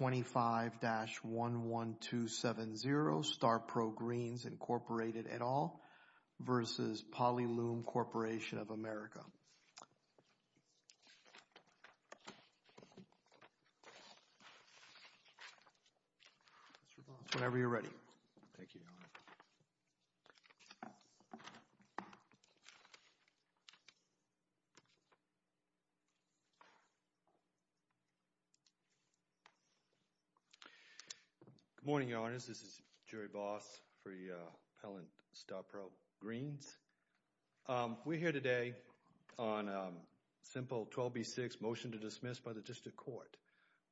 25-11270, StarPro, Greens, Incorporated, et al. v. Polyloom Corporation of America. Whenever you're ready. Good morning, Your Honors. This is Jury Boss for the appellant, StarPro, Greens. We're here today on a simple 12B6 motion to dismiss by the district court.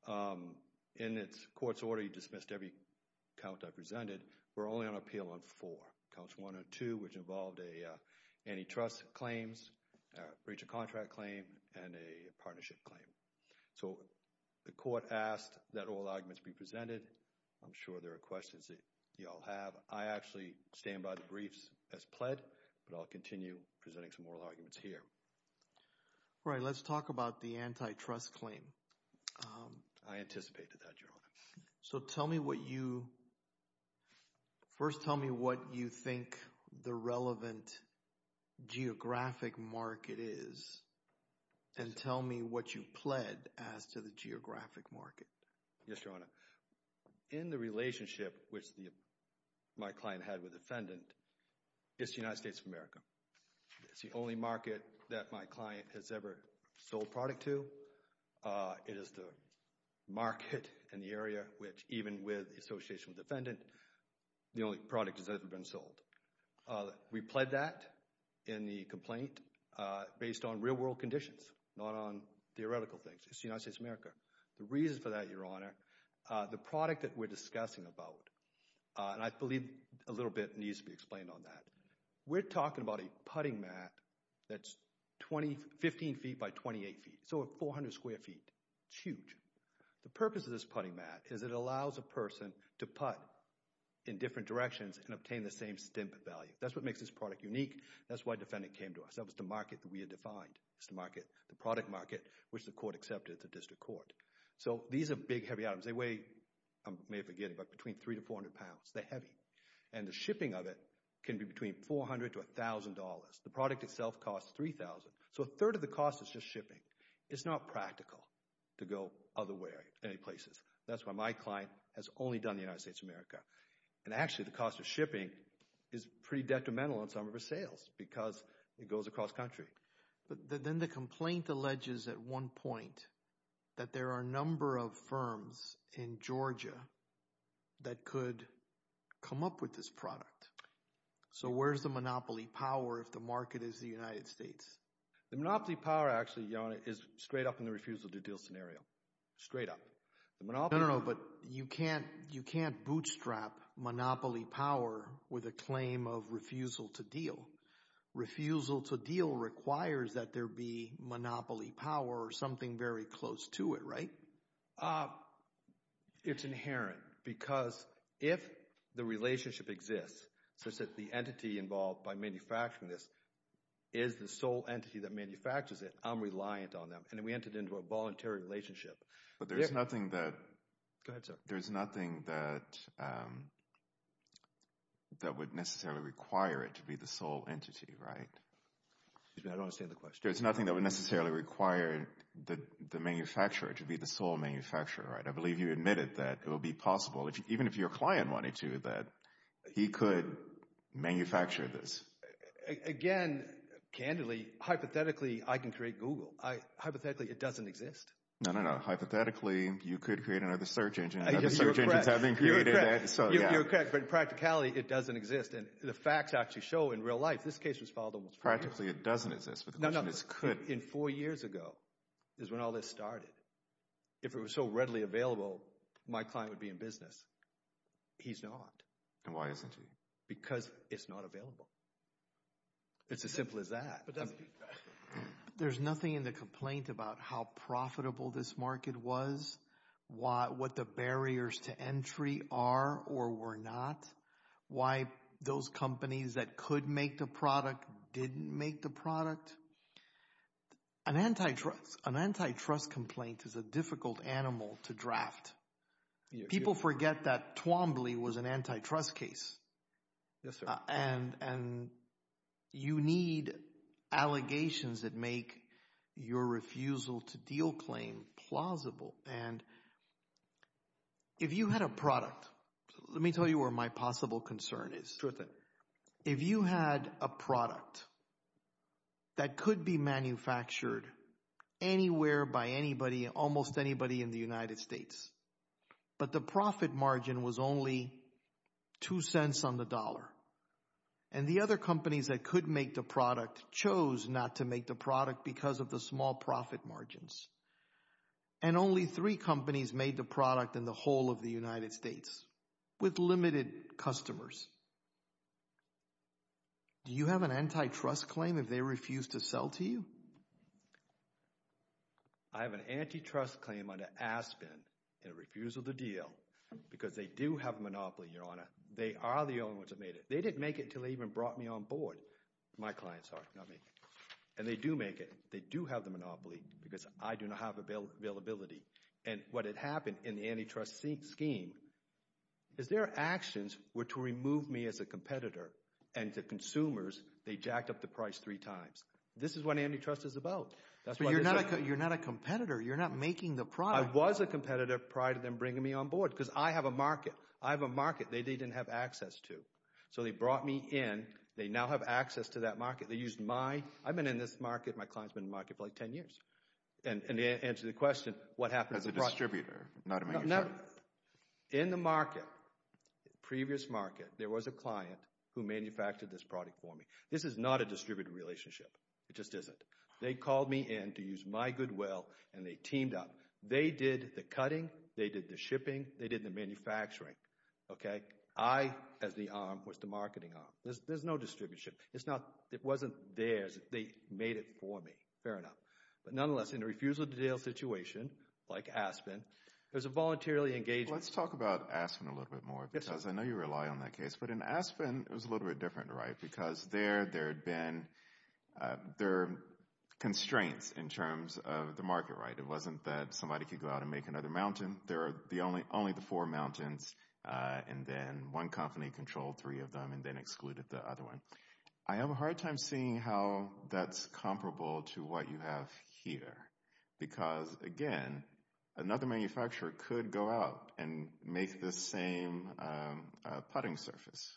In its court's order, you dismissed every count I presented. We're only on appeal on four. Counts one and two, which involved antitrust claims, breach of contract claim, and a partnership claim. So the court asked that all arguments be presented. I'm sure there are questions that you all have. I actually stand by the briefs as pled, but I'll continue presenting some oral arguments here. All right, let's talk about the antitrust claim. I anticipated that, Your Honor. So tell me what you, first tell me what you think the relevant geographic market is, and tell me what you pled as to the geographic market. Yes, Your Honor. In the relationship which my client had with the defendant, it's the United States of America. It's the only market that my client has ever sold product to. It is the market in the area which, even with the association with the defendant, the only product has ever been sold. We pled that in the complaint based on real world conditions, not on theoretical things. It's the United States of America. The reason for that, Your Honor, the product that we're discussing about, and I believe a little bit needs to be explained on that. We're talking about a putting mat that's 15 feet by 28 feet, so 400 square feet. It's huge. The purpose of this putting mat is it allows a person to put in different directions and obtain the same stamp value. That's what makes this product unique. That's why the defendant came to us. That was the market that we had defined. It's the market, the product market, which the court accepted at the district court. So these are big, heavy items. They weigh, I may have can be between $400 to $1,000. The product itself costs $3,000. So a third of the cost is just shipping. It's not practical to go otherwhere, any places. That's why my client has only done the United States of America. And actually, the cost of shipping is pretty detrimental on some of her sales because it goes across country. But then the complaint alleges at one point that there are a number of firms in Georgia that could come up with this product. So where's the monopoly power if the market is the United States? The monopoly power, actually, is straight up in the refusal to deal scenario. Straight up. No, no, no. But you can't bootstrap monopoly power with a claim of refusal to deal. Refusal to deal requires that there be monopoly power or something very close to it, right? It's inherent because if the relationship exists, such that the entity involved by manufacturing this is the sole entity that manufactures it, I'm reliant on them. And we entered into a voluntary relationship. But there's nothing that- Go ahead, sir. There's nothing that would necessarily require it to be the sole entity, right? Excuse me, I don't understand the question. There's nothing that would necessarily require the manufacturer to be the sole manufacturer, right? I believe you admitted that it will be possible, even if your client wanted to, that he could manufacture this. Again, candidly, hypothetically, I can create Google. Hypothetically, it doesn't exist. No, no, no. Hypothetically, you could create another search engine. I guess you're correct. You're correct. But in practicality, it doesn't exist. And the facts actually show in real life, this case was filed almost four years ago. Practically, it doesn't exist. No, no, it could. Four years ago is when all this started. If it was so readily available, my client would be in business. He's not. And why isn't he? Because it's not available. It's as simple as that. There's nothing in the complaint about how profitable this market was, what the barriers to entry are or were not, why those companies that could make the product didn't make the product. An antitrust complaint is a difficult animal to draft. People forget that Twombly was an antitrust case. Yes, sir. And you need allegations that make your refusal to deal claim plausible. And if you had a product, let me tell you where my possible concern is. Sure thing. If you had a product that could be manufactured anywhere by anybody, almost anybody in the United States, but the profit margin was only two cents on the dollar, and the other companies that could make the product chose not to make the product because of the small profit margins, and only three companies made the product in the whole of the United States with limited customers, do you have an antitrust claim if they refuse to sell to you? I have an antitrust claim under Aspen in refusal to deal because they do have a monopoly, they are the only ones that made it. They didn't make it until they even brought me on board. My clients are, not me. And they do make it. They do have the monopoly because I do not have availability. And what had happened in the antitrust scheme is their actions were to remove me as a competitor and to consumers, they jacked up the price three times. This is what antitrust is about. You're not a competitor. You're not making the product. I was a competitor prior to them bringing me on board because I have a market. I have a market that they didn't have access to. So they brought me in. They now have access to that market. They used my, I've been in this market, my client's been in the market for like 10 years. And to answer the question, what happened? As a distributor, not a manufacturer. In the market, previous market, there was a client who manufactured this product for me. This is not a distributor relationship. It just isn't. They called me in to use my goodwill and they teamed up. They did the cutting. They did the shipping. They did the manufacturing, okay? I, as the arm, was the marketing arm. There's no distribution. It's not, it wasn't theirs. They made it for me. Fair enough. But nonetheless, in a refusal to deal situation, like Aspen, there's a voluntarily engaged. Let's talk about Aspen a little bit more because I know you rely on that case. But in Aspen, it was a little bit different, right? Because there, there had been, there were constraints in terms of the market, right? It wasn't that somebody could go out and make another mountain. There are the only, only the four mountains. And then one company controlled three of them and then excluded the other one. I have a hard time seeing how that's comparable to what you have here. Because again, another manufacturer could go out and make the same putting surface.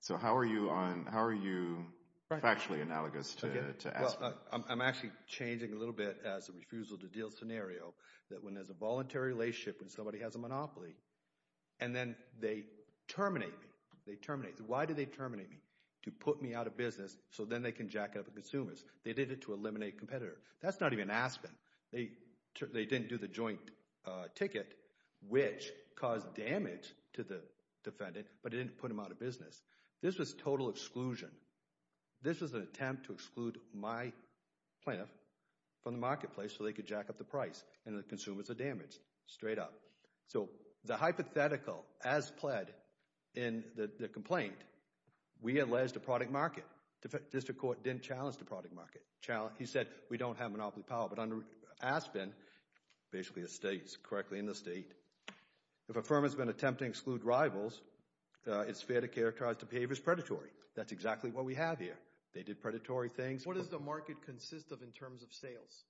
So how are you on, how are you factually analogous to Aspen? I'm actually changing a little bit as a refusal to deal scenario. That when there's a voluntary relationship, when somebody has a monopoly, and then they terminate me, they terminate. Why do they terminate me? To put me out of business so then they can jack up the consumers. They did it to eliminate competitor. That's not even Aspen. They, they didn't do the joint ticket, which caused damage to the defendant. But it didn't put him out of business. This was total exclusion. This was an attempt to exclude my plaintiff from the marketplace so they could jack up the price and the consumers are damaged. Straight up. So the hypothetical, as pled in the complaint, we alleged a product market. District Court didn't challenge the product market. He said we don't have monopoly power. But under Aspen, basically the state's, correctly in the state, if a firm has been attempting to exclude rivals, it's fair to characterize the behavior as predatory. That's exactly what we have here. They did predatory things. What does the market consist of in terms of sales?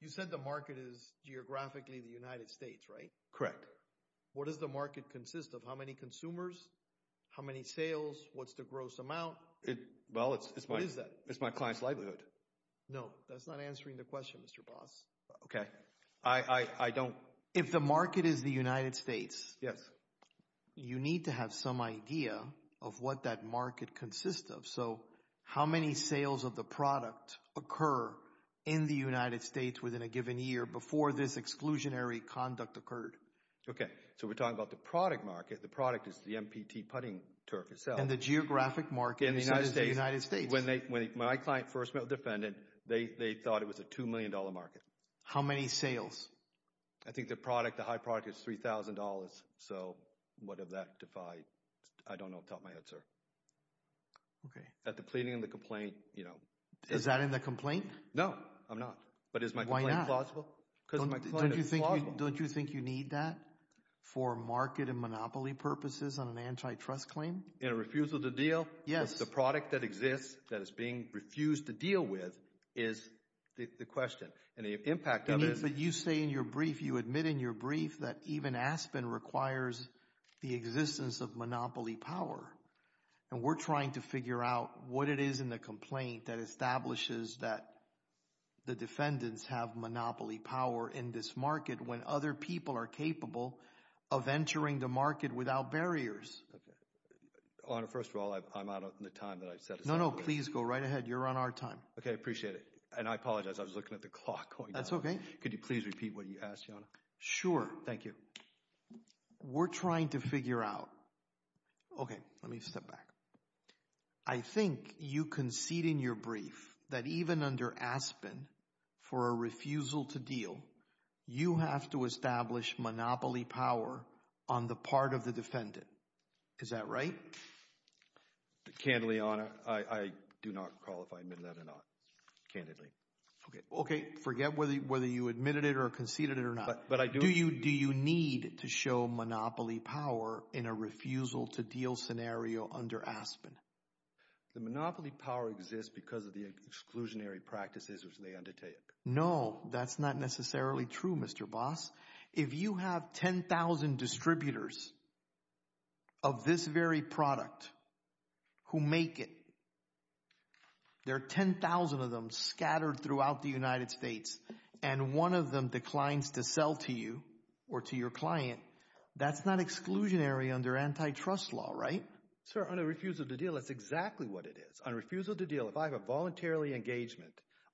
You said the market is geographically the United States, right? Correct. What does the market consist of? How many consumers? How many sales? What's the gross amount? Well, it's my, it's my client's livelihood. No, that's not answering the question, Mr. Boss. Okay, I, I, I don't. If the market is the United States, yes, you need to have some idea of what that market consists of. So how many sales of the product occur in the United States within a given year before this exclusionary conduct occurred? Okay, so we're talking about the product market. The product is the MPT putting turf itself. And the geographic market in the United States. When they, when my client first met with the defendant, they, they thought it was a $2 million market. How many sales? I think the product, the high product is $3,000. So what if that defied, I don't know, top of my head, sir. Okay. At the pleading and the complaint, you know. Is that in the complaint? No, I'm not. But is my complaint plausible? Because my client is plausible. Don't you think you need that for market and monopoly purposes on an antitrust claim? In a refusal to deal? Yes. The product that exists that is being refused to deal with is the question. And the impact of it. But you say in your brief, you admit in your brief, that even Aspen requires the existence of monopoly power. And we're trying to figure out what it is in the complaint that establishes that the defendants have monopoly power in this market when other people are capable of entering the market without barriers. Honor, first of all, I'm out of the time that I've set. No, no, please go right ahead. You're on our time. Okay, I appreciate it. And I apologize. I was looking at the clock. That's okay. Could you please repeat what you asked, Your Honor? Sure. Thank you. We're trying to figure out. Okay, let me step back. I think you concede in your brief that even under Aspen, for a refusal to deal, you have to establish monopoly power on the part of the defendant. Is that right? Candidly, Your Honor, I do not call if I admit that or not. Candidly. Okay, forget whether you admitted it or conceded it or not. But I do. Do you need to show monopoly power in a refusal to deal scenario under Aspen? The monopoly power exists because of the exclusionary practices which they undertake. No, that's not necessarily true, Mr. Boss. If you have 10,000 distributors of this very product who make it, there are 10,000 of them scattered throughout the United States, and one of them declines to sell to you or to your client, that's not exclusionary under antitrust law, right? Sir, on a refusal to deal, that's exactly what it is. On refusal to deal, if I have a voluntarily engagement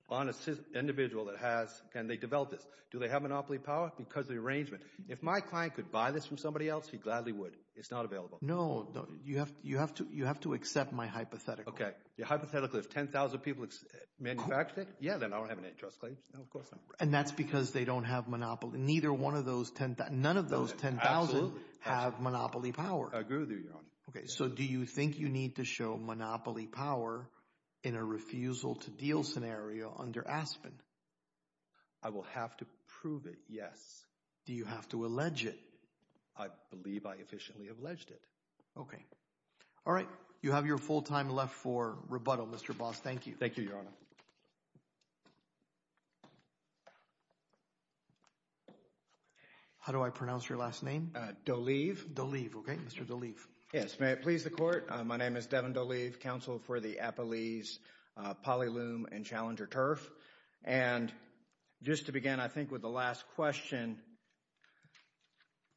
on an individual that has, and they develop this, do they have monopoly power? Because of the arrangement. If my client could buy this from somebody else, he gladly would. It's not available. No, you have to accept my hypothetical. Your hypothetical, if 10,000 people manufacture it, yeah, then I don't have antitrust claims. No, of course not. And that's because they don't have monopoly, neither one of those 10, none of those 10,000 have monopoly power. I agree with you, Your Honor. Okay, so do you think you need to show monopoly power in a refusal to deal scenario under Aspen? I will have to prove it, yes. Do you have to allege it? I believe I efficiently have alleged it. Okay. All right. You have your full time left for rebuttal, Mr. Boss. Thank you. Thank you, Your Honor. How do I pronounce your last name? Deleve, okay. Mr. Deleve. Yes, may it please the Court. My name is Devin Deleve, counsel for the Appalese, Polyloom, and Challenger Turf. And just to begin, I think, with the last question. And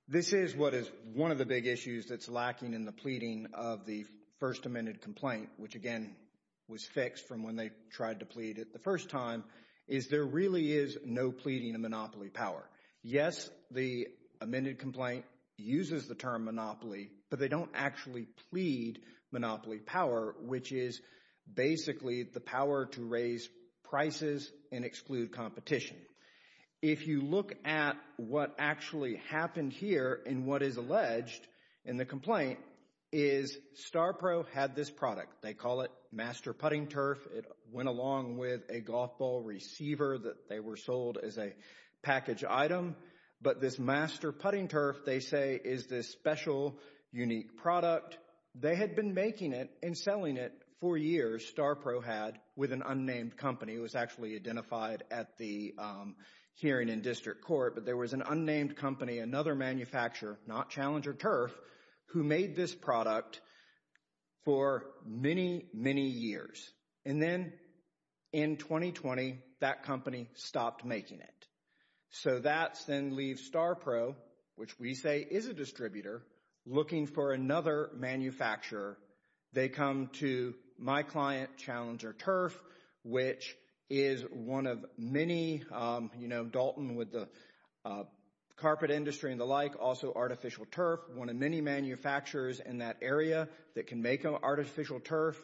this is what is one of the big issues that's lacking in the pleading of the first amended complaint, which again was fixed from when they tried to plead it the first time, is there really is no pleading of monopoly power. Yes, the amended complaint uses the term monopoly, but they don't actually plead monopoly power, which is basically the power to raise prices and exclude competition. If you look at what actually happened here, and what is alleged in the complaint is StarPro had this product. They call it Master Putting Turf. It went along with a golf ball receiver that they were sold as a package item. But this Master Putting Turf, they say, is this special, unique product. They had been making it and selling it for years, StarPro had, with an unnamed company. It was actually identified at the hearing in district court, but there was an unnamed company, another manufacturer, not Challenger Turf, who made this product for many, many years. And then in 2020, that company stopped making it. So that's then leave StarPro, which we say is a distributor, looking for another manufacturer. They come to my client, Challenger Turf, which is one of many, you know, Dalton with the carpet industry and the like, also artificial turf, one of many manufacturers in that area that can make an artificial turf.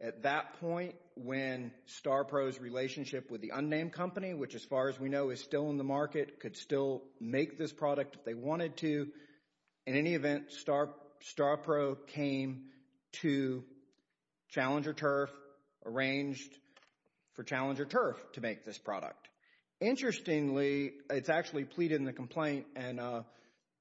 At that point, when StarPro's relationship with the unnamed company, which as far as we know, is still in the market, could still make this product if they wanted to. In any event, StarPro came to Challenger Turf, arranged for Challenger Turf to make this product. Interestingly, it's actually pleaded in the complaint, and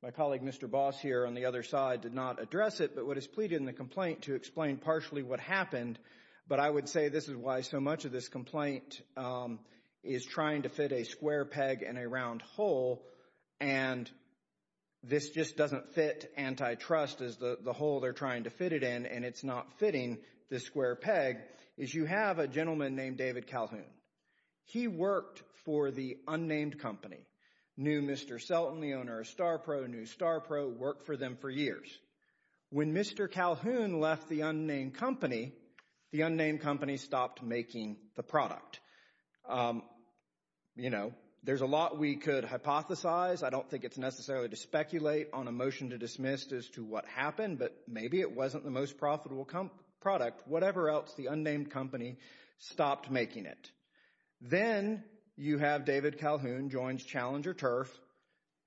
my colleague Mr. Boss here on the other side did not address it, but what is pleaded in the complaint to explain partially what happened, but I would say this is why so much of this complaint is trying to fit a square peg in a round hole. And this just doesn't fit antitrust as the hole they're trying to fit it in, and it's not fitting the square peg, is you have a gentleman named David Calhoun. He worked for the unnamed company, knew Mr. Selton, the owner of StarPro, knew StarPro, worked for them for years. When Mr. Calhoun left the unnamed company, the unnamed company stopped making the product. You know, there's a lot we could hypothesize. I don't think it's necessarily to speculate on a motion to dismiss as to what happened, but maybe it wasn't the most profitable product. Whatever else, the unnamed company stopped making it. Then you have David Calhoun joins Challenger Turf.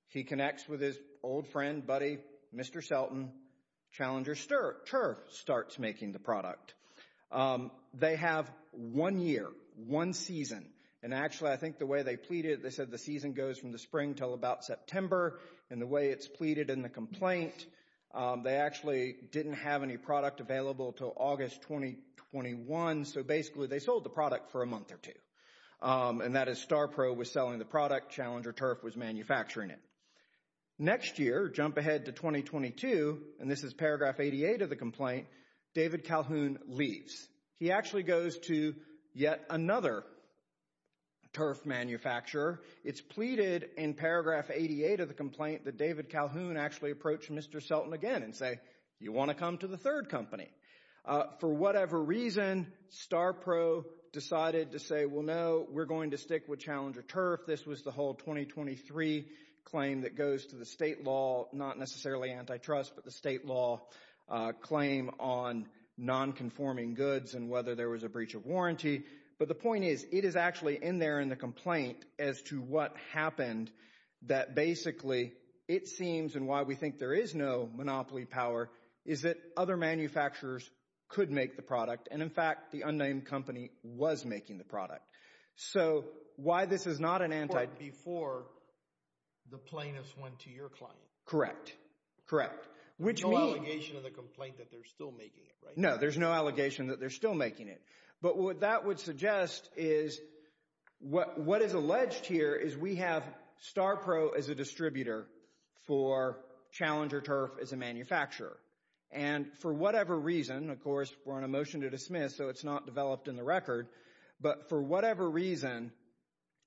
He connects with his old friend, buddy, Mr. Selton. Challenger Turf starts making the product. Um, they have one year, one season. And actually, I think the way they pleaded, they said the season goes from the spring till about September. And the way it's pleaded in the complaint, they actually didn't have any product available till August 2021. So basically, they sold the product for a month or two. And that is StarPro was selling the product, Challenger Turf was manufacturing it. Next year, jump ahead to 2022, and this is paragraph 88 of the complaint, David Calhoun leaves. He actually goes to yet another turf manufacturer. It's pleaded in paragraph 88 of the complaint that David Calhoun actually approached Mr. Selton again and say, you want to come to the third company. For whatever reason, StarPro decided to say, well, no, we're going to stick with Challenger Turf. This was the whole 2023 claim that goes to the state law, not necessarily antitrust, but the state law claim on non-conforming goods and whether there was a breach of warranty. But the point is, it is actually in there in the complaint as to what happened that basically it seems, and why we think there is no monopoly power is that other manufacturers could make the product. And in fact, the unnamed company was making the product. So why this is not an anti- Before the plaintiffs went to your client. Correct, correct. No allegation in the complaint that they're still making it, right? No, there's no allegation that they're still making it. But what that would suggest is what is alleged here is we have StarPro as a distributor for Challenger Turf as a manufacturer. And for whatever reason, of course, we're on a motion to dismiss, so it's not developed in the record. But for whatever reason,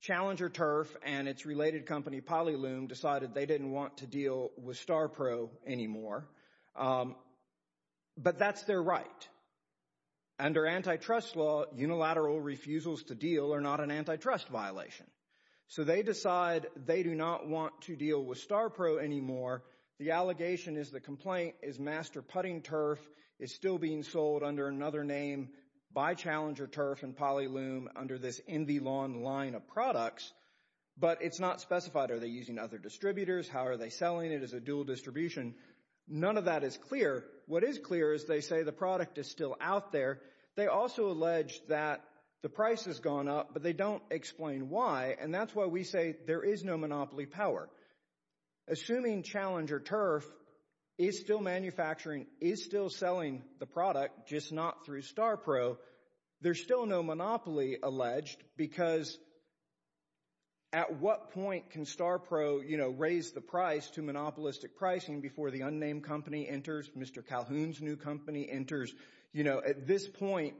Challenger Turf and its related company, Polyloom, decided they didn't want to deal with StarPro anymore. But that's their right. Under antitrust law, unilateral refusals to deal are not an antitrust violation. So they decide they do not want to deal with StarPro anymore. The allegation is the complaint is Master Putting Turf is still being sold under another name by Challenger Turf and Polyloom under this In The Lawn line of products. But it's not specified. Are they using other distributors? How are they selling it as a dual distribution? None of that is clear. What is clear is they say the product is still out there. They also allege that the price has gone up, but they don't explain why. And that's why we say there is no monopoly power. Assuming Challenger Turf is still manufacturing, is still selling the product, just not through StarPro, there's still no monopoly alleged because at what point can StarPro, you know, raise the price to monopolistic pricing before the unnamed company enters, Mr. Calhoun's new company enters? You know, at this point,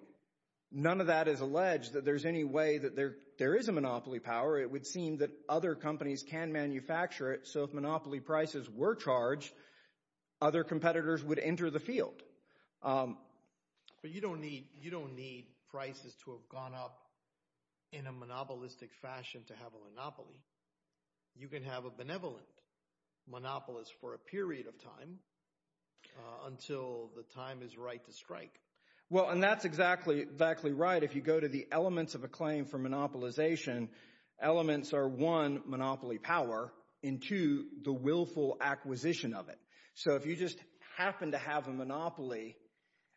none of that is alleged that there's any way that there is a monopoly power. It would seem that other companies can manufacture it. So if monopoly prices were charged, other competitors would enter the field. But you don't need prices to have gone up in a monopolistic fashion to have a monopoly. You can have a benevolent monopolist for a period of time until the time is right to strike. Well, and that's exactly right. If you go to the elements of a claim for monopolization, elements are one, monopoly power, and two, the willful acquisition of it. So if you just happen to have a monopoly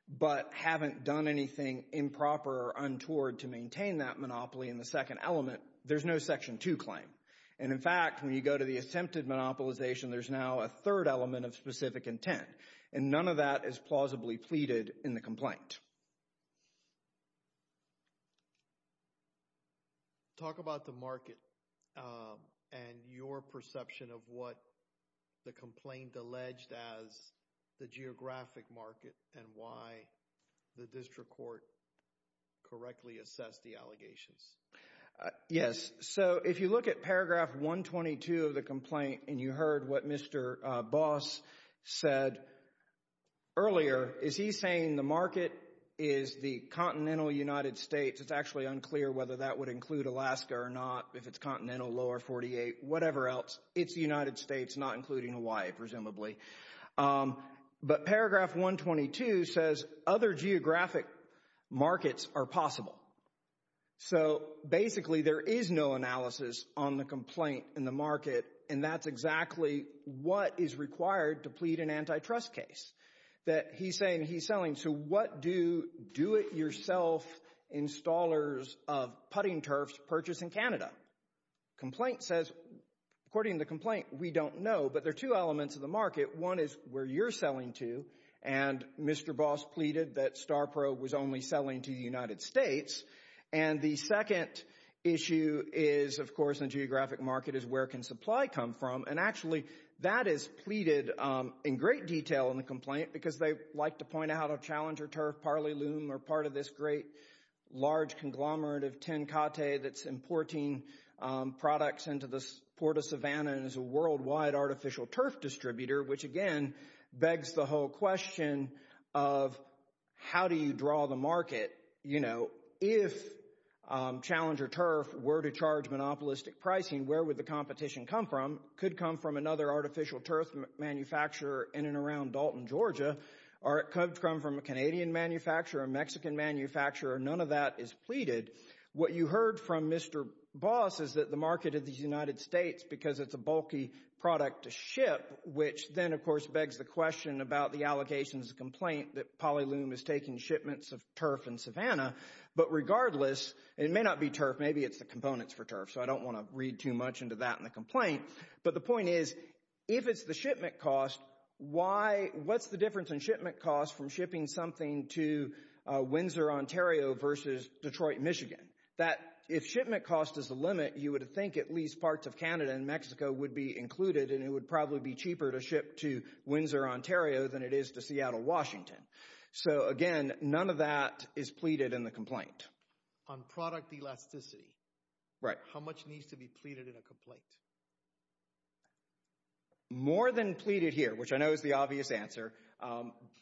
but haven't done anything improper or untoward to maintain that monopoly in the second element, there's no Section 2 claim. And in fact, when you go to the attempted monopolization, there's now a third element of specific intent. And none of that is plausibly pleaded in the complaint. Talk about the market and your perception of what the complaint alleged as the geographic market and why the district court correctly assessed the allegations. Yes. So if you look at paragraph 122 of the complaint and you heard what Mr. Boss said earlier, is he saying the market is the continental United States? It's actually unclear whether that would include Alaska or not, if it's continental, lower 48, whatever else. It's the United States, not including Hawaii, presumably. But paragraph 122 says other geographic markets are possible. So basically there is no analysis on the complaint in the market, and that's exactly what is required to plead an antitrust case. That he's saying, he's selling, so what do do-it-yourself installers of putting turfs purchase in Canada? Complaint says, according to the complaint, we don't know, but there are two elements of the market. One is where you're selling to, and Mr. Boss pleaded that StarProbe was only selling to the United States. And the second issue is, of course, in geographic market, is where can supply come from? And actually that is pleaded in great detail in the complaint because they like to point out a Challenger turf, Parley loom are part of this great large conglomerate of Tenkate that's importing products into the Port of Savannah and is a worldwide artificial turf distributor, which again begs the whole question of how do you draw the market? You know, if Challenger turf were to charge monopolistic pricing, where would the competition come from? Could come from another artificial turf manufacturer in and around Dalton, Georgia. Or it could come from a Canadian manufacturer, a Mexican manufacturer. None of that is pleaded. What you heard from Mr. Boss is that the market of the United States, because it's a bulky product to ship, which then, of course, begs the question about the allegations of complaint that Polyloom is taking shipments of turf in Savannah. But regardless, it may not be turf. Maybe it's the components for turf. So I don't want to read too much into that in the complaint. But the point is, if it's the shipment cost, what's the difference in shipment cost from shipping something to Windsor, Ontario versus Detroit, Michigan? That if shipment cost is the limit, you would think at least parts of Canada and Mexico would be included and it would probably be cheaper to ship to Windsor, Ontario than it is to Seattle, Washington. So again, none of that is pleaded in the complaint. On product elasticity. Right. How much needs to be pleaded in a complaint? More than pleaded here, which I know is the obvious answer.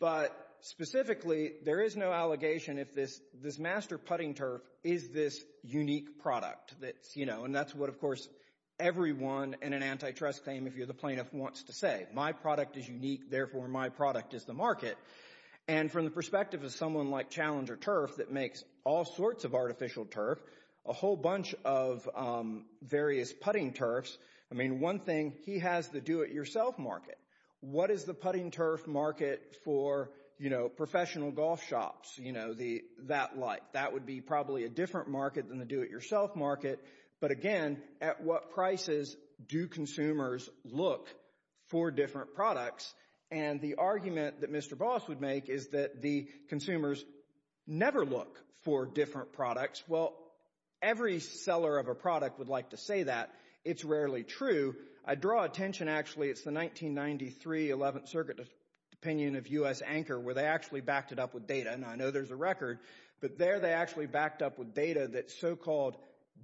But specifically, there is no allegation if this master putting turf is this unique product. And that's what, of course, everyone in an antitrust claim, if you're the plaintiff, wants to say. My product is unique. Therefore, my product is the market. And from the perspective of someone like Challenger Turf that makes all sorts of artificial turf, a whole bunch of various putting turfs, I mean, one thing, he has the do-it-yourself market. What is the putting turf market for professional golf shops that like? That would be probably a different market than the do-it-yourself market. But again, at what prices do consumers look for different products? And the argument that Mr. Boss would make is that the consumers never look for different products. Well, every seller of a product would like to say that. It's rarely true. I draw attention, actually. It's the 1993 11th Circuit opinion of U.S. Anchor where they actually backed it up with data. And I know there's a record. But there, they actually backed up with data that so-called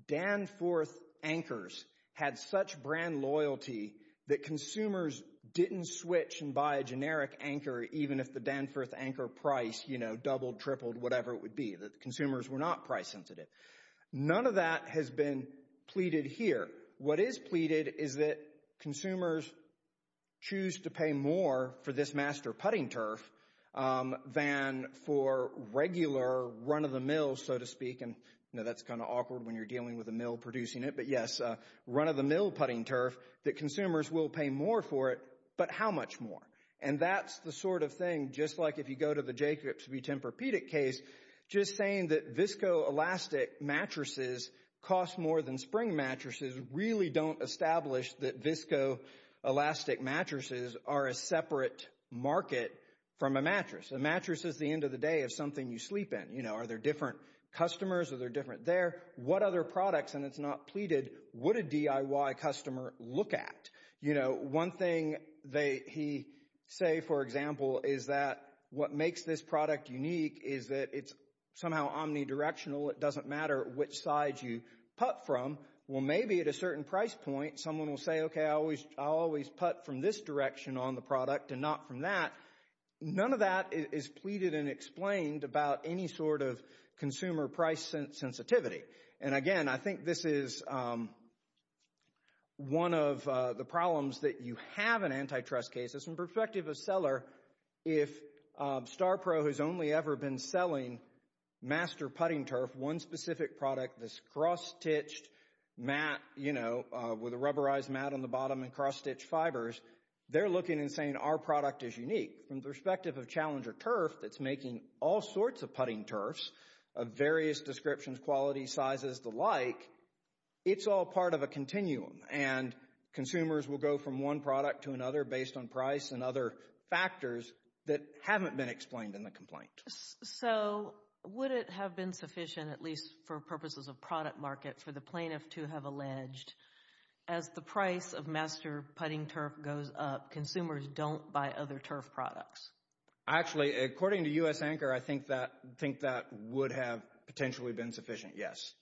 Danforth anchors had such brand loyalty that consumers didn't switch and buy a generic anchor even if the Danforth anchor price doubled, tripled, whatever it would be. The consumers were not price sensitive. None of that has been pleaded here. What is pleaded is that consumers choose to pay more for this master putting turf than for regular run-of-the-mill, so to speak. And I know that's kind of awkward when you're dealing with a mill producing it. But yes, run-of-the-mill putting turf that consumers will pay more for it. But how much more? And that's the sort of thing, just like if you go to the Jacobs v. Tempur-Pedic case, just saying that viscoelastic mattresses cost more than spring mattresses really don't establish that viscoelastic mattresses are a separate market from a mattress. A mattress is the end of the day of something you sleep in. Are there different customers? Are there different there? What other products, and it's not pleaded, would a DIY customer look at? One thing he say, for example, is that what makes this product unique is that it's somehow omnidirectional. It doesn't matter which side you put from. Well, maybe at a certain price point someone will say, okay, I always put from this direction on the product and not from that. None of that is pleaded and explained about any sort of consumer price sensitivity. And again, I think this is one of the problems that you have in antitrust cases. From the perspective of a seller, if StarPro has only ever been selling master putting turf, one specific product, this cross-stitched mat with a rubberized mat on the bottom and cross-stitched fibers, they're looking and saying our product is unique. From the perspective of Challenger Turf that's making all sorts of putting turfs of various descriptions, quality, sizes, the like, it's all part of a continuum. And consumers will go from one product to another based on price and other factors that haven't been explained in the complaint. So, would it have been sufficient, at least for purposes of product market, for the plaintiff to have alleged as the price of master putting turf goes up, consumers don't buy other turf products? Actually, according to U.S. Anchor, I think that would have potentially been sufficient, yes.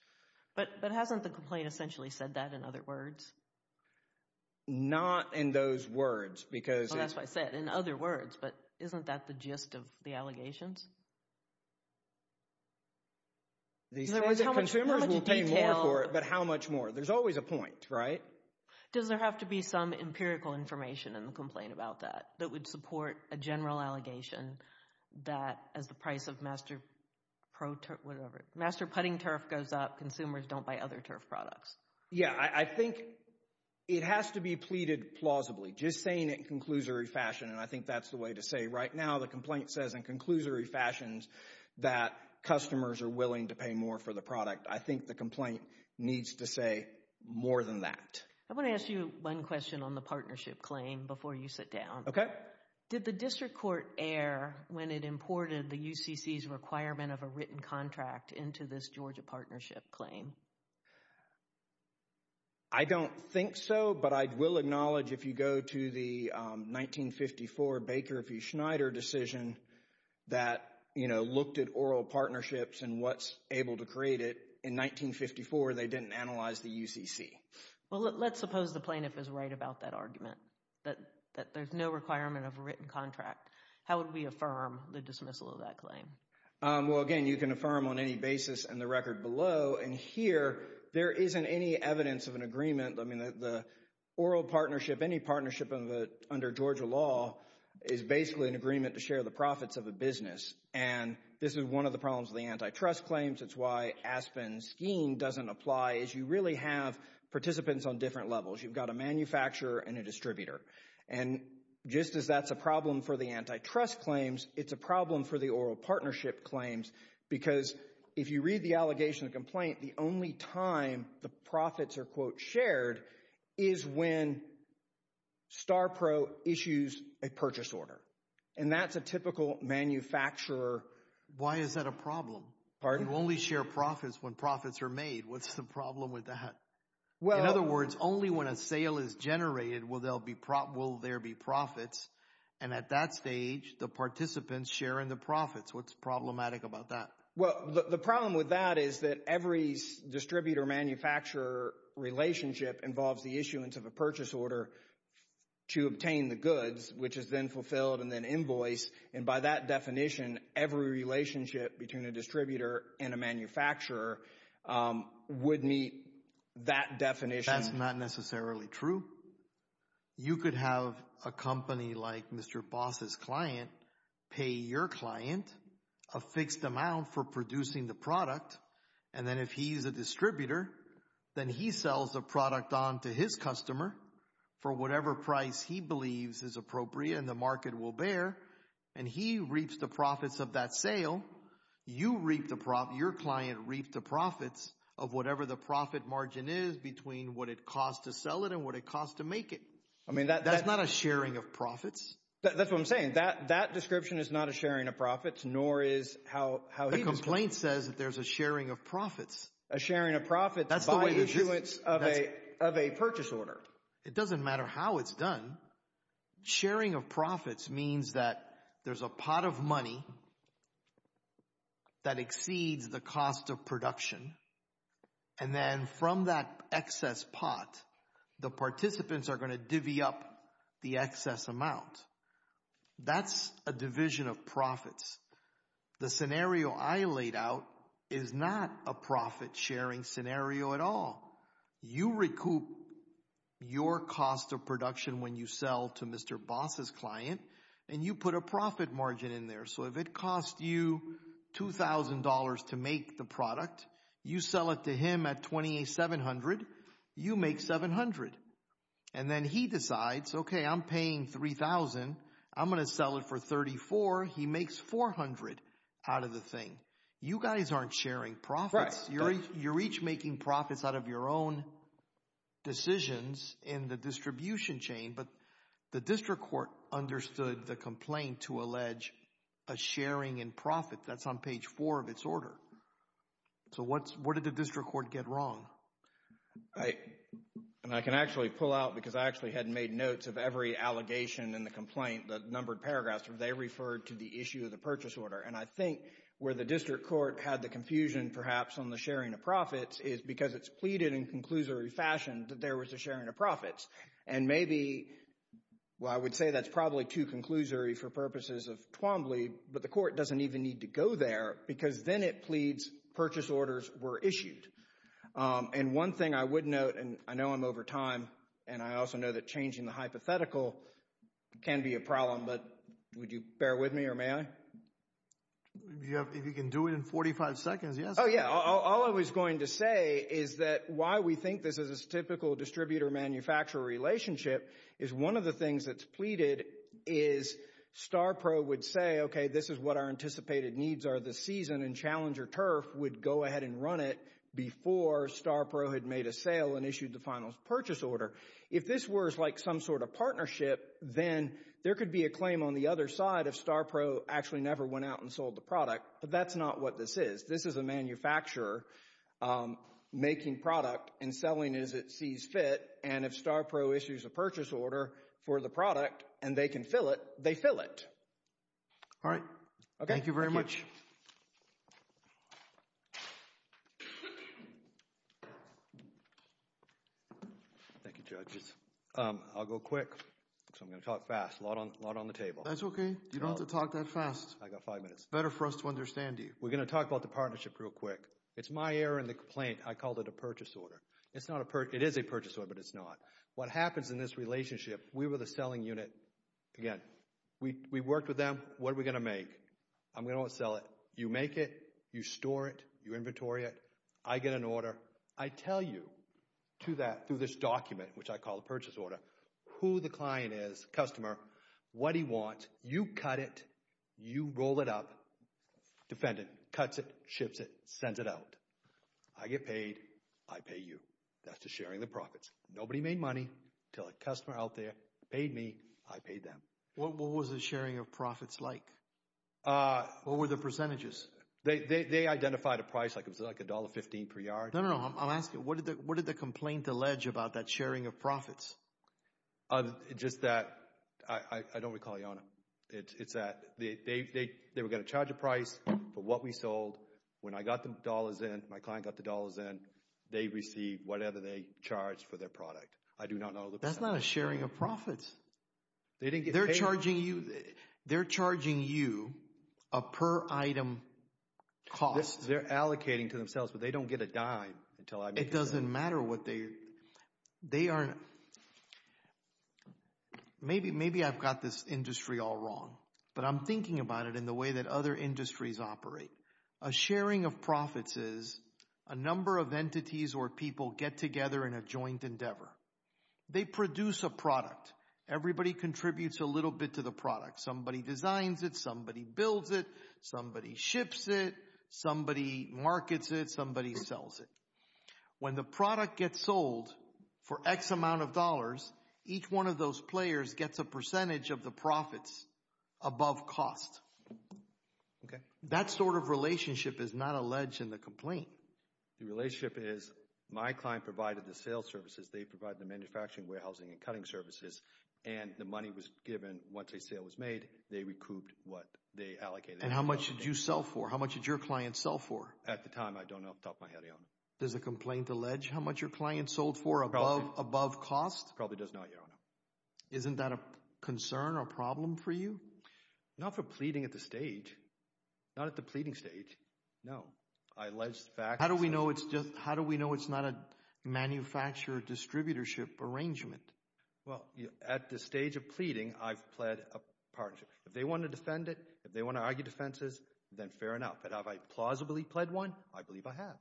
But hasn't the complaint essentially said that in other words? Not in those words because... That's what I said, in other words. But isn't that the gist of the allegations? They say that consumers will pay more for it, but how much more? There's always a point, right? Does there have to be some empirical information in the complaint about that, that would support a general allegation that as the price of master putting turf goes up, consumers don't buy other turf products? Yeah, I think it has to be pleaded plausibly. Just saying it in conclusory fashion, and I think that's the way to say it. Right now, the complaint says in conclusory fashions that customers are willing to pay more for the product. I think the complaint needs to say more than that. I want to ask you one question on the partnership claim before you sit down. Okay. Did the district court err when it imported the UCC's requirement of a written contract into this Georgia partnership claim? I don't think so, but I will acknowledge if you go to the 1954 Baker v. Schneider decision that looked at oral partnerships and what's able to create it. In 1954, they didn't analyze the UCC. Well, let's suppose the plaintiff is right about that argument, that there's no requirement of a written contract. How would we affirm the dismissal of that claim? Well, again, you can affirm on any basis in the record below. And here, there isn't any evidence of an agreement. I mean, the oral partnership, any partnership under Georgia law is basically an agreement to share the profits of a business. And this is one of the problems of the antitrust claims. It's why Aspen's scheme doesn't apply is you really have participants on different levels. You've got a manufacturer and a distributor. And just as that's a problem for the antitrust claims, it's a problem for the oral partnership claims because if you read the allegation of complaint, the only time the profits are, quote, shared is when StarPro issues a purchase order. And that's a typical manufacturer. Why is that a problem? Pardon? You only share profits when profits are made. What's the problem with that? In other words, only when a sale is generated will there be profits. And at that stage, the participants share in the profits. What's problematic about that? Well, the problem with that is that every distributor-manufacturer relationship involves the issuance of a purchase order to obtain the goods, which is then fulfilled and then invoiced. And by that definition, every relationship between a distributor and a manufacturer would meet that definition. That's not necessarily true. You could have a company like Mr. Boss's client pay your client a fixed amount for producing the product. And then if he's a distributor, then he sells the product on to his customer for whatever price he believes is appropriate and the market will bear. And he reaps the profits of that sale. You reap the profit, your client reaps the profits of whatever the profit margin is between what it costs to sell it and what it costs to make it. I mean, that's not a sharing of profits. That's what I'm saying. That description is not a sharing of profits, nor is how he was- The complaint says that there's a sharing of profits. A sharing of profits by issuance of a purchase order. It doesn't matter how it's done. Sharing of profits means that there's a pot of money that exceeds the cost of production. And then from that excess pot, the participants are going to divvy up the excess amount. That's a division of profits. The scenario I laid out is not a profit sharing scenario at all. You recoup your cost of production when you sell to Mr. Boss's client and you put a profit margin in there. So if it costs you $2,000 to make the product, you sell it to him at $2,700, you make $700. And then he decides, okay, I'm paying $3,000. I'm going to sell it for $34,000. He makes $400 out of the thing. You guys aren't sharing profits. You're each making profits out of your own decisions in the distribution chain. But the district court understood the complaint to allege a sharing in profit. That's on page four of its order. So what did the district court get wrong? I can actually pull out because I actually had made notes of every allegation in the complaint, the numbered paragraphs, where they referred to the issue of the purchase order. And I think where the district court had the confusion perhaps on the sharing of profits is because it's pleaded in conclusory fashion that there was a sharing of profits. And maybe, well, I would say that's probably too conclusory for purposes of Twombly, but the court doesn't even need to go there because then it pleads purchase orders were issued. And one thing I would note, and I know I'm over time, and I also know that changing the hypothetical can be a problem, but would you bear with me or may I? If you can do it in 45 seconds, yes. Oh, yeah. All I was going to say is that why we think this is a typical distributor-manufacturer relationship is one of the things that's pleaded is StarPro would say, okay, this is what our anticipated needs are this season, and Challenger Turf would go ahead and run it before StarPro had made a sale and issued the final purchase order. If this were like some sort of partnership, then there could be a claim on the other side if StarPro actually never went out and sold the product, but that's not what this is. This is a manufacturer making product and selling as it sees fit, and if StarPro issues a purchase order for the product and they can fill it, they fill it. All right. Okay. Thank you very much. Thank you, judges. I'll go quick, so I'm going to talk fast. A lot on the table. That's okay. You don't have to talk that fast. I got five minutes. Better for us to understand you. We're going to talk about the partnership real quick. It's my error in the complaint. I called it a purchase order. It's not a purchase. It is a purchase order, but it's not. What happens in this relationship, we were the selling unit. Again, we worked with them. What are we going to make? I'm going to sell it. You make it. You store it. You inventory it. I get an order. I tell you to that through this document, which I call a purchase order, who the client is, customer, what he wants. You cut it. You roll it up. Defendant cuts it, ships it, sends it out. I get paid. I pay you. That's the sharing the profits. Nobody made money until a customer out there paid me. I paid them. What was the sharing of profits like? What were the percentages? They identified a price. Like it was like $1.15 per yard. No, no, no. I'm asking what did the complaint allege about that sharing of profits? Just that I don't recall, Your Honor. It's that they were going to charge a price for what we sold. When I got the dollars in, my client got the dollars in, they received whatever they charged for their product. I do not know. That's not a sharing of profits. They didn't get paid. They're charging you. They're charging you a per-item cost. They're allocating to themselves, but they don't get a dime until I... It doesn't matter what they... They aren't... Maybe I've got this industry all wrong, but I'm thinking about it in the way that other industries operate. A sharing of profits is a number of entities or people get together in a joint endeavor. They produce a product. Everybody contributes a little bit to the product. Somebody designs it. Somebody builds it. Somebody ships it. Somebody markets it. Somebody sells it. When the product gets sold for X amount of dollars, each one of those players gets a percentage of the profits above cost. That sort of relationship is not alleged in the complaint. The relationship is my client provided the sales services. They provide the manufacturing, warehousing, and cutting services, and the money was given once a sale was made. They recouped what they allocated. And how much did you sell for? How much did your client sell for? At the time, I don't know off the top of my head, Your Honor. Does the complaint allege how much your client sold for above cost? Probably does not, Your Honor. Isn't that a concern or a problem for you? Not for pleading at the stage. Not at the pleading stage. No. I allege the facts. How do we know it's not a manufacturer distributorship arrangement? Well, at the stage of pleading, I've pled a partnership. If they want to defend it, if they want to argue defenses, then fair enough. But have I plausibly pled one? I believe I have.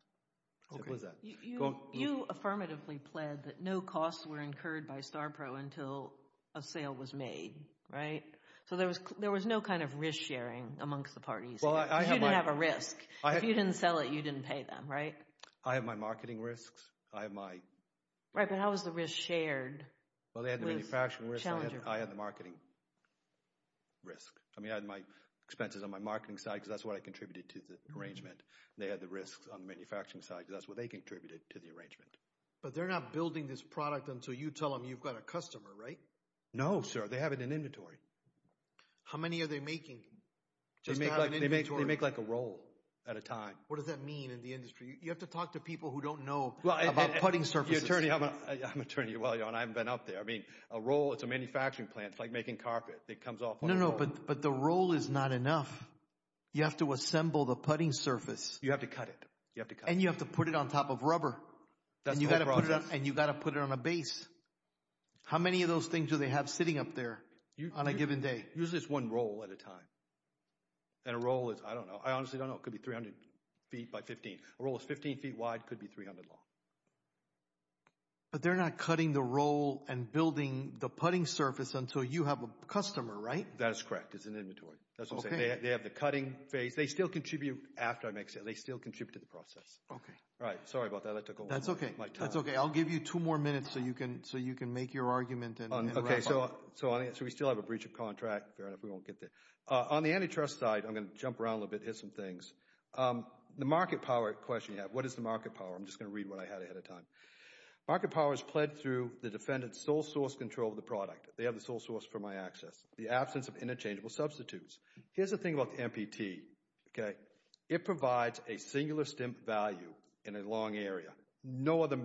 You affirmatively pled that no costs were incurred by StarPro until a sale was made, right? So there was no kind of risk sharing amongst the parties. You didn't have a risk. If you didn't sell it, you didn't pay them, right? I have my marketing risks. I have my... Right, but how was the risk shared? Well, they had the manufacturing risk. I had the marketing risk. I mean, I had my expenses on my marketing side because that's what I contributed to the arrangement. They had the risks on the manufacturing side because that's what they contributed to the arrangement. But they're not building this product until you tell them you've got a customer, right? No, sir. They have it in inventory. How many are they making? They make like a roll at a time. What does that mean in the industry? You have to talk to people who don't know about putting surfaces. Your attorney... I'm an attorney while you're on. I haven't been up there. I mean, a roll, it's a manufacturing plant. It's like making carpet. It comes off on a roll. No, no, but the roll is not enough. You have to assemble the putting surface. You have to cut it. You have to cut it. And you have to put it on top of rubber. That's the whole process. And you've got to put it on a base. How many of those things do they have sitting up there on a given day? Usually it's one roll at a time. And a roll is, I don't know. I honestly don't know. It could be 300 feet by 15. A roll is 15 feet wide. It could be 300 long. But they're not cutting the roll and building the putting surface until you have a customer, right? That is correct. It's an inventory. That's what I'm saying. They have the cutting phase. They still contribute after I make sales. They still contribute to the process. Okay. Right. Sorry about that. That took a while. That's okay. That's okay. I'll give you two more minutes so you can make your argument and wrap up. Okay, so we still have a breach of contract. Fair enough. We won't get there. On the antitrust side, I'm going to jump around a little bit, hit some things. The market power question you have. What is the market power? I'm just going to read what I had ahead of time. Market power is pledged through the defendant's sole source control of the product. They have the sole source for my access. The absence of interchangeable substitutes. Here's the thing about the MPT, okay? It provides a singular stimp value in a long area. No other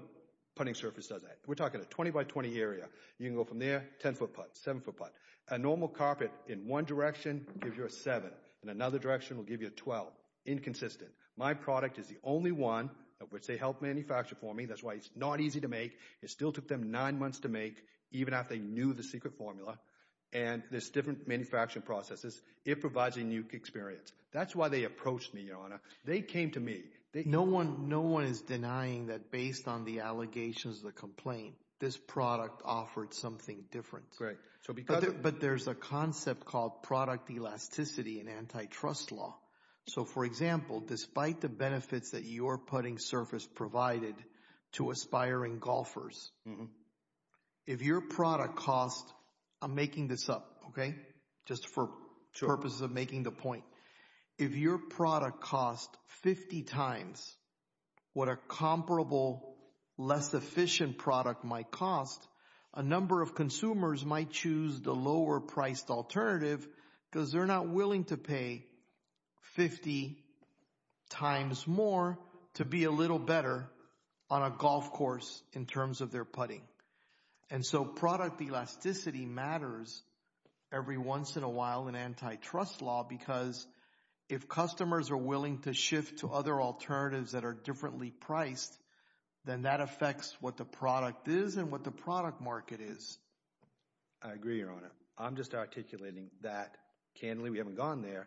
putting surface does that. We're talking a 20 by 20 area. You can go from there, 10 foot putt, 7 foot putt. A normal carpet in one direction gives you a 7. In another direction, it will give you a 12. Inconsistent. My product is the only one of which they helped manufacture for me. That's why it's not easy to make. It still took them nine months to make even after they knew the secret formula. And there's different manufacturing processes. It provides a unique experience. That's why they approached me, Your Honor. They came to me. No one is denying that based on the allegations of the complaint, this product offered something different. But there's a concept called product elasticity and antitrust law. So for example, despite the benefits that your putting surface provided to aspiring golfers, if your product cost, I'm making this up, okay? Just for purposes of making the point. If your product cost 50 times what a comparable less efficient product might cost, a number of consumers might choose the lower priced alternative because they're not willing to pay 50 times more to be a little better on a golf course in terms of their putting. And so product elasticity matters every once in a while in antitrust law because if customers are willing to shift to other alternatives that are differently priced, then that affects what the product is and what the product market is. I agree, Your Honor. I'm just articulating that candidly. We haven't gone there.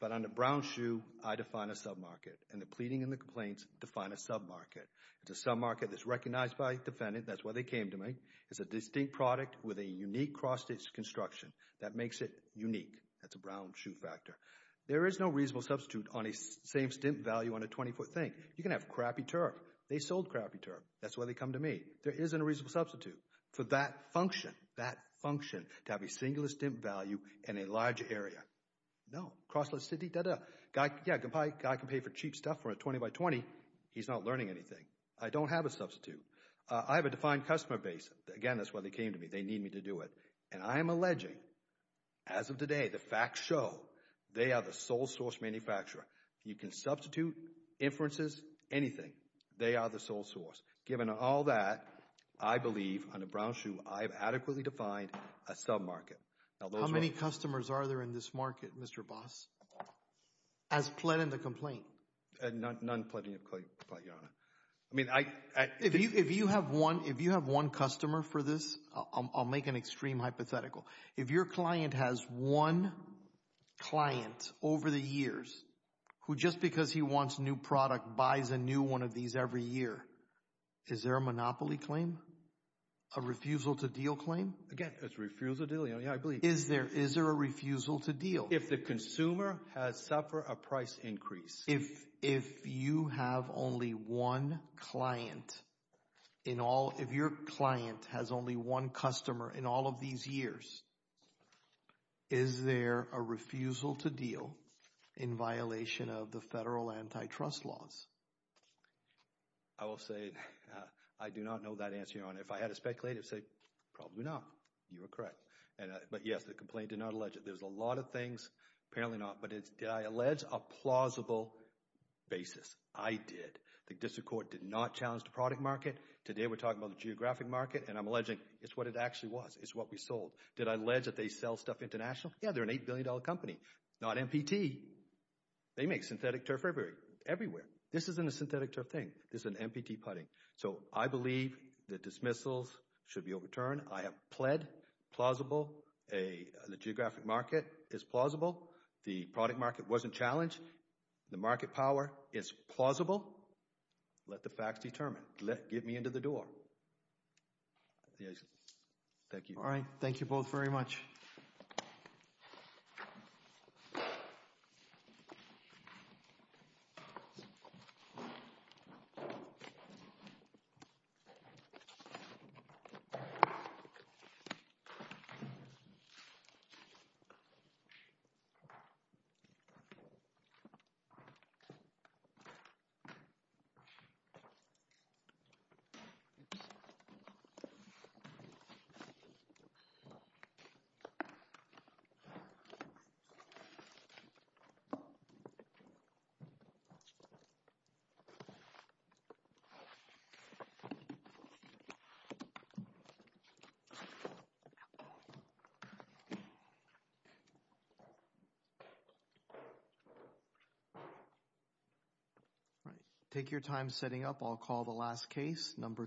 But on the brown shoe, I define a sub-market and the pleading and the complaints define a sub-market. It's a sub-market that's recognized by defendant. That's why they came to me. It's a distinct product with a unique cross-stitch construction that makes it unique. That's a brown shoe factor. There is no reasonable substitute on a same stint value on a 20-foot thing. You can have crappy turf. They sold crappy turf. That's why they come to me. There isn't a reasonable substitute for that function. That function to have a singular stint value in a large area. Cross-stitch city, duh-duh. Guy, yeah, guy can pay for cheap stuff for a 20 by 20. He's not learning anything. I don't have a substitute. I have a defined customer base. Again, that's why they came to me. They need me to do it. And I am alleging, as of today, the facts show they are the sole source manufacturer. You can substitute inferences, anything. They are the sole source. Given all that, I believe on a brown shoe, I have adequately defined a sub-market. How many customers are there in this market, Mr. Boss? As pled in the complaint? None pled in the complaint, Your Honor. If you have one customer for this, I'll make an extreme hypothetical. If your client has one client over the years who just because he wants a new product buys a new one of these every year, is there a monopoly claim? A refusal to deal claim? Again, it's refusal to deal. Yeah, I believe. Is there a refusal to deal? If the consumer has suffered a price increase. If you have only one client in all, if your client has only one customer in all of these years, is there a refusal to deal in violation of the federal antitrust laws? I will say I do not know that answer, Your Honor. If I had to speculate, I'd say probably not. You were correct. But yes, the complaint did not allege it. There's a lot of things, apparently not, but did I allege a plausible basis? I did. The district court did not challenge the product market. Today we're talking about the geographic market and I'm alleging it's what it actually was. It's what we sold. Did I allege that they sell stuff international? Yeah, they're an $8 billion company. Not MPT. They make synthetic turf everywhere. Everywhere. This isn't a synthetic turf thing. This is an MPT putting. So I believe the dismissals should be overturned. I have pled plausible. The geographic market is plausible. The product market wasn't challenged. The market power is plausible. Let the facts determine. Get me into the door. Thank you. All right. Thank you both very much. All right. Take your time setting up. I'll call the last case. Number two.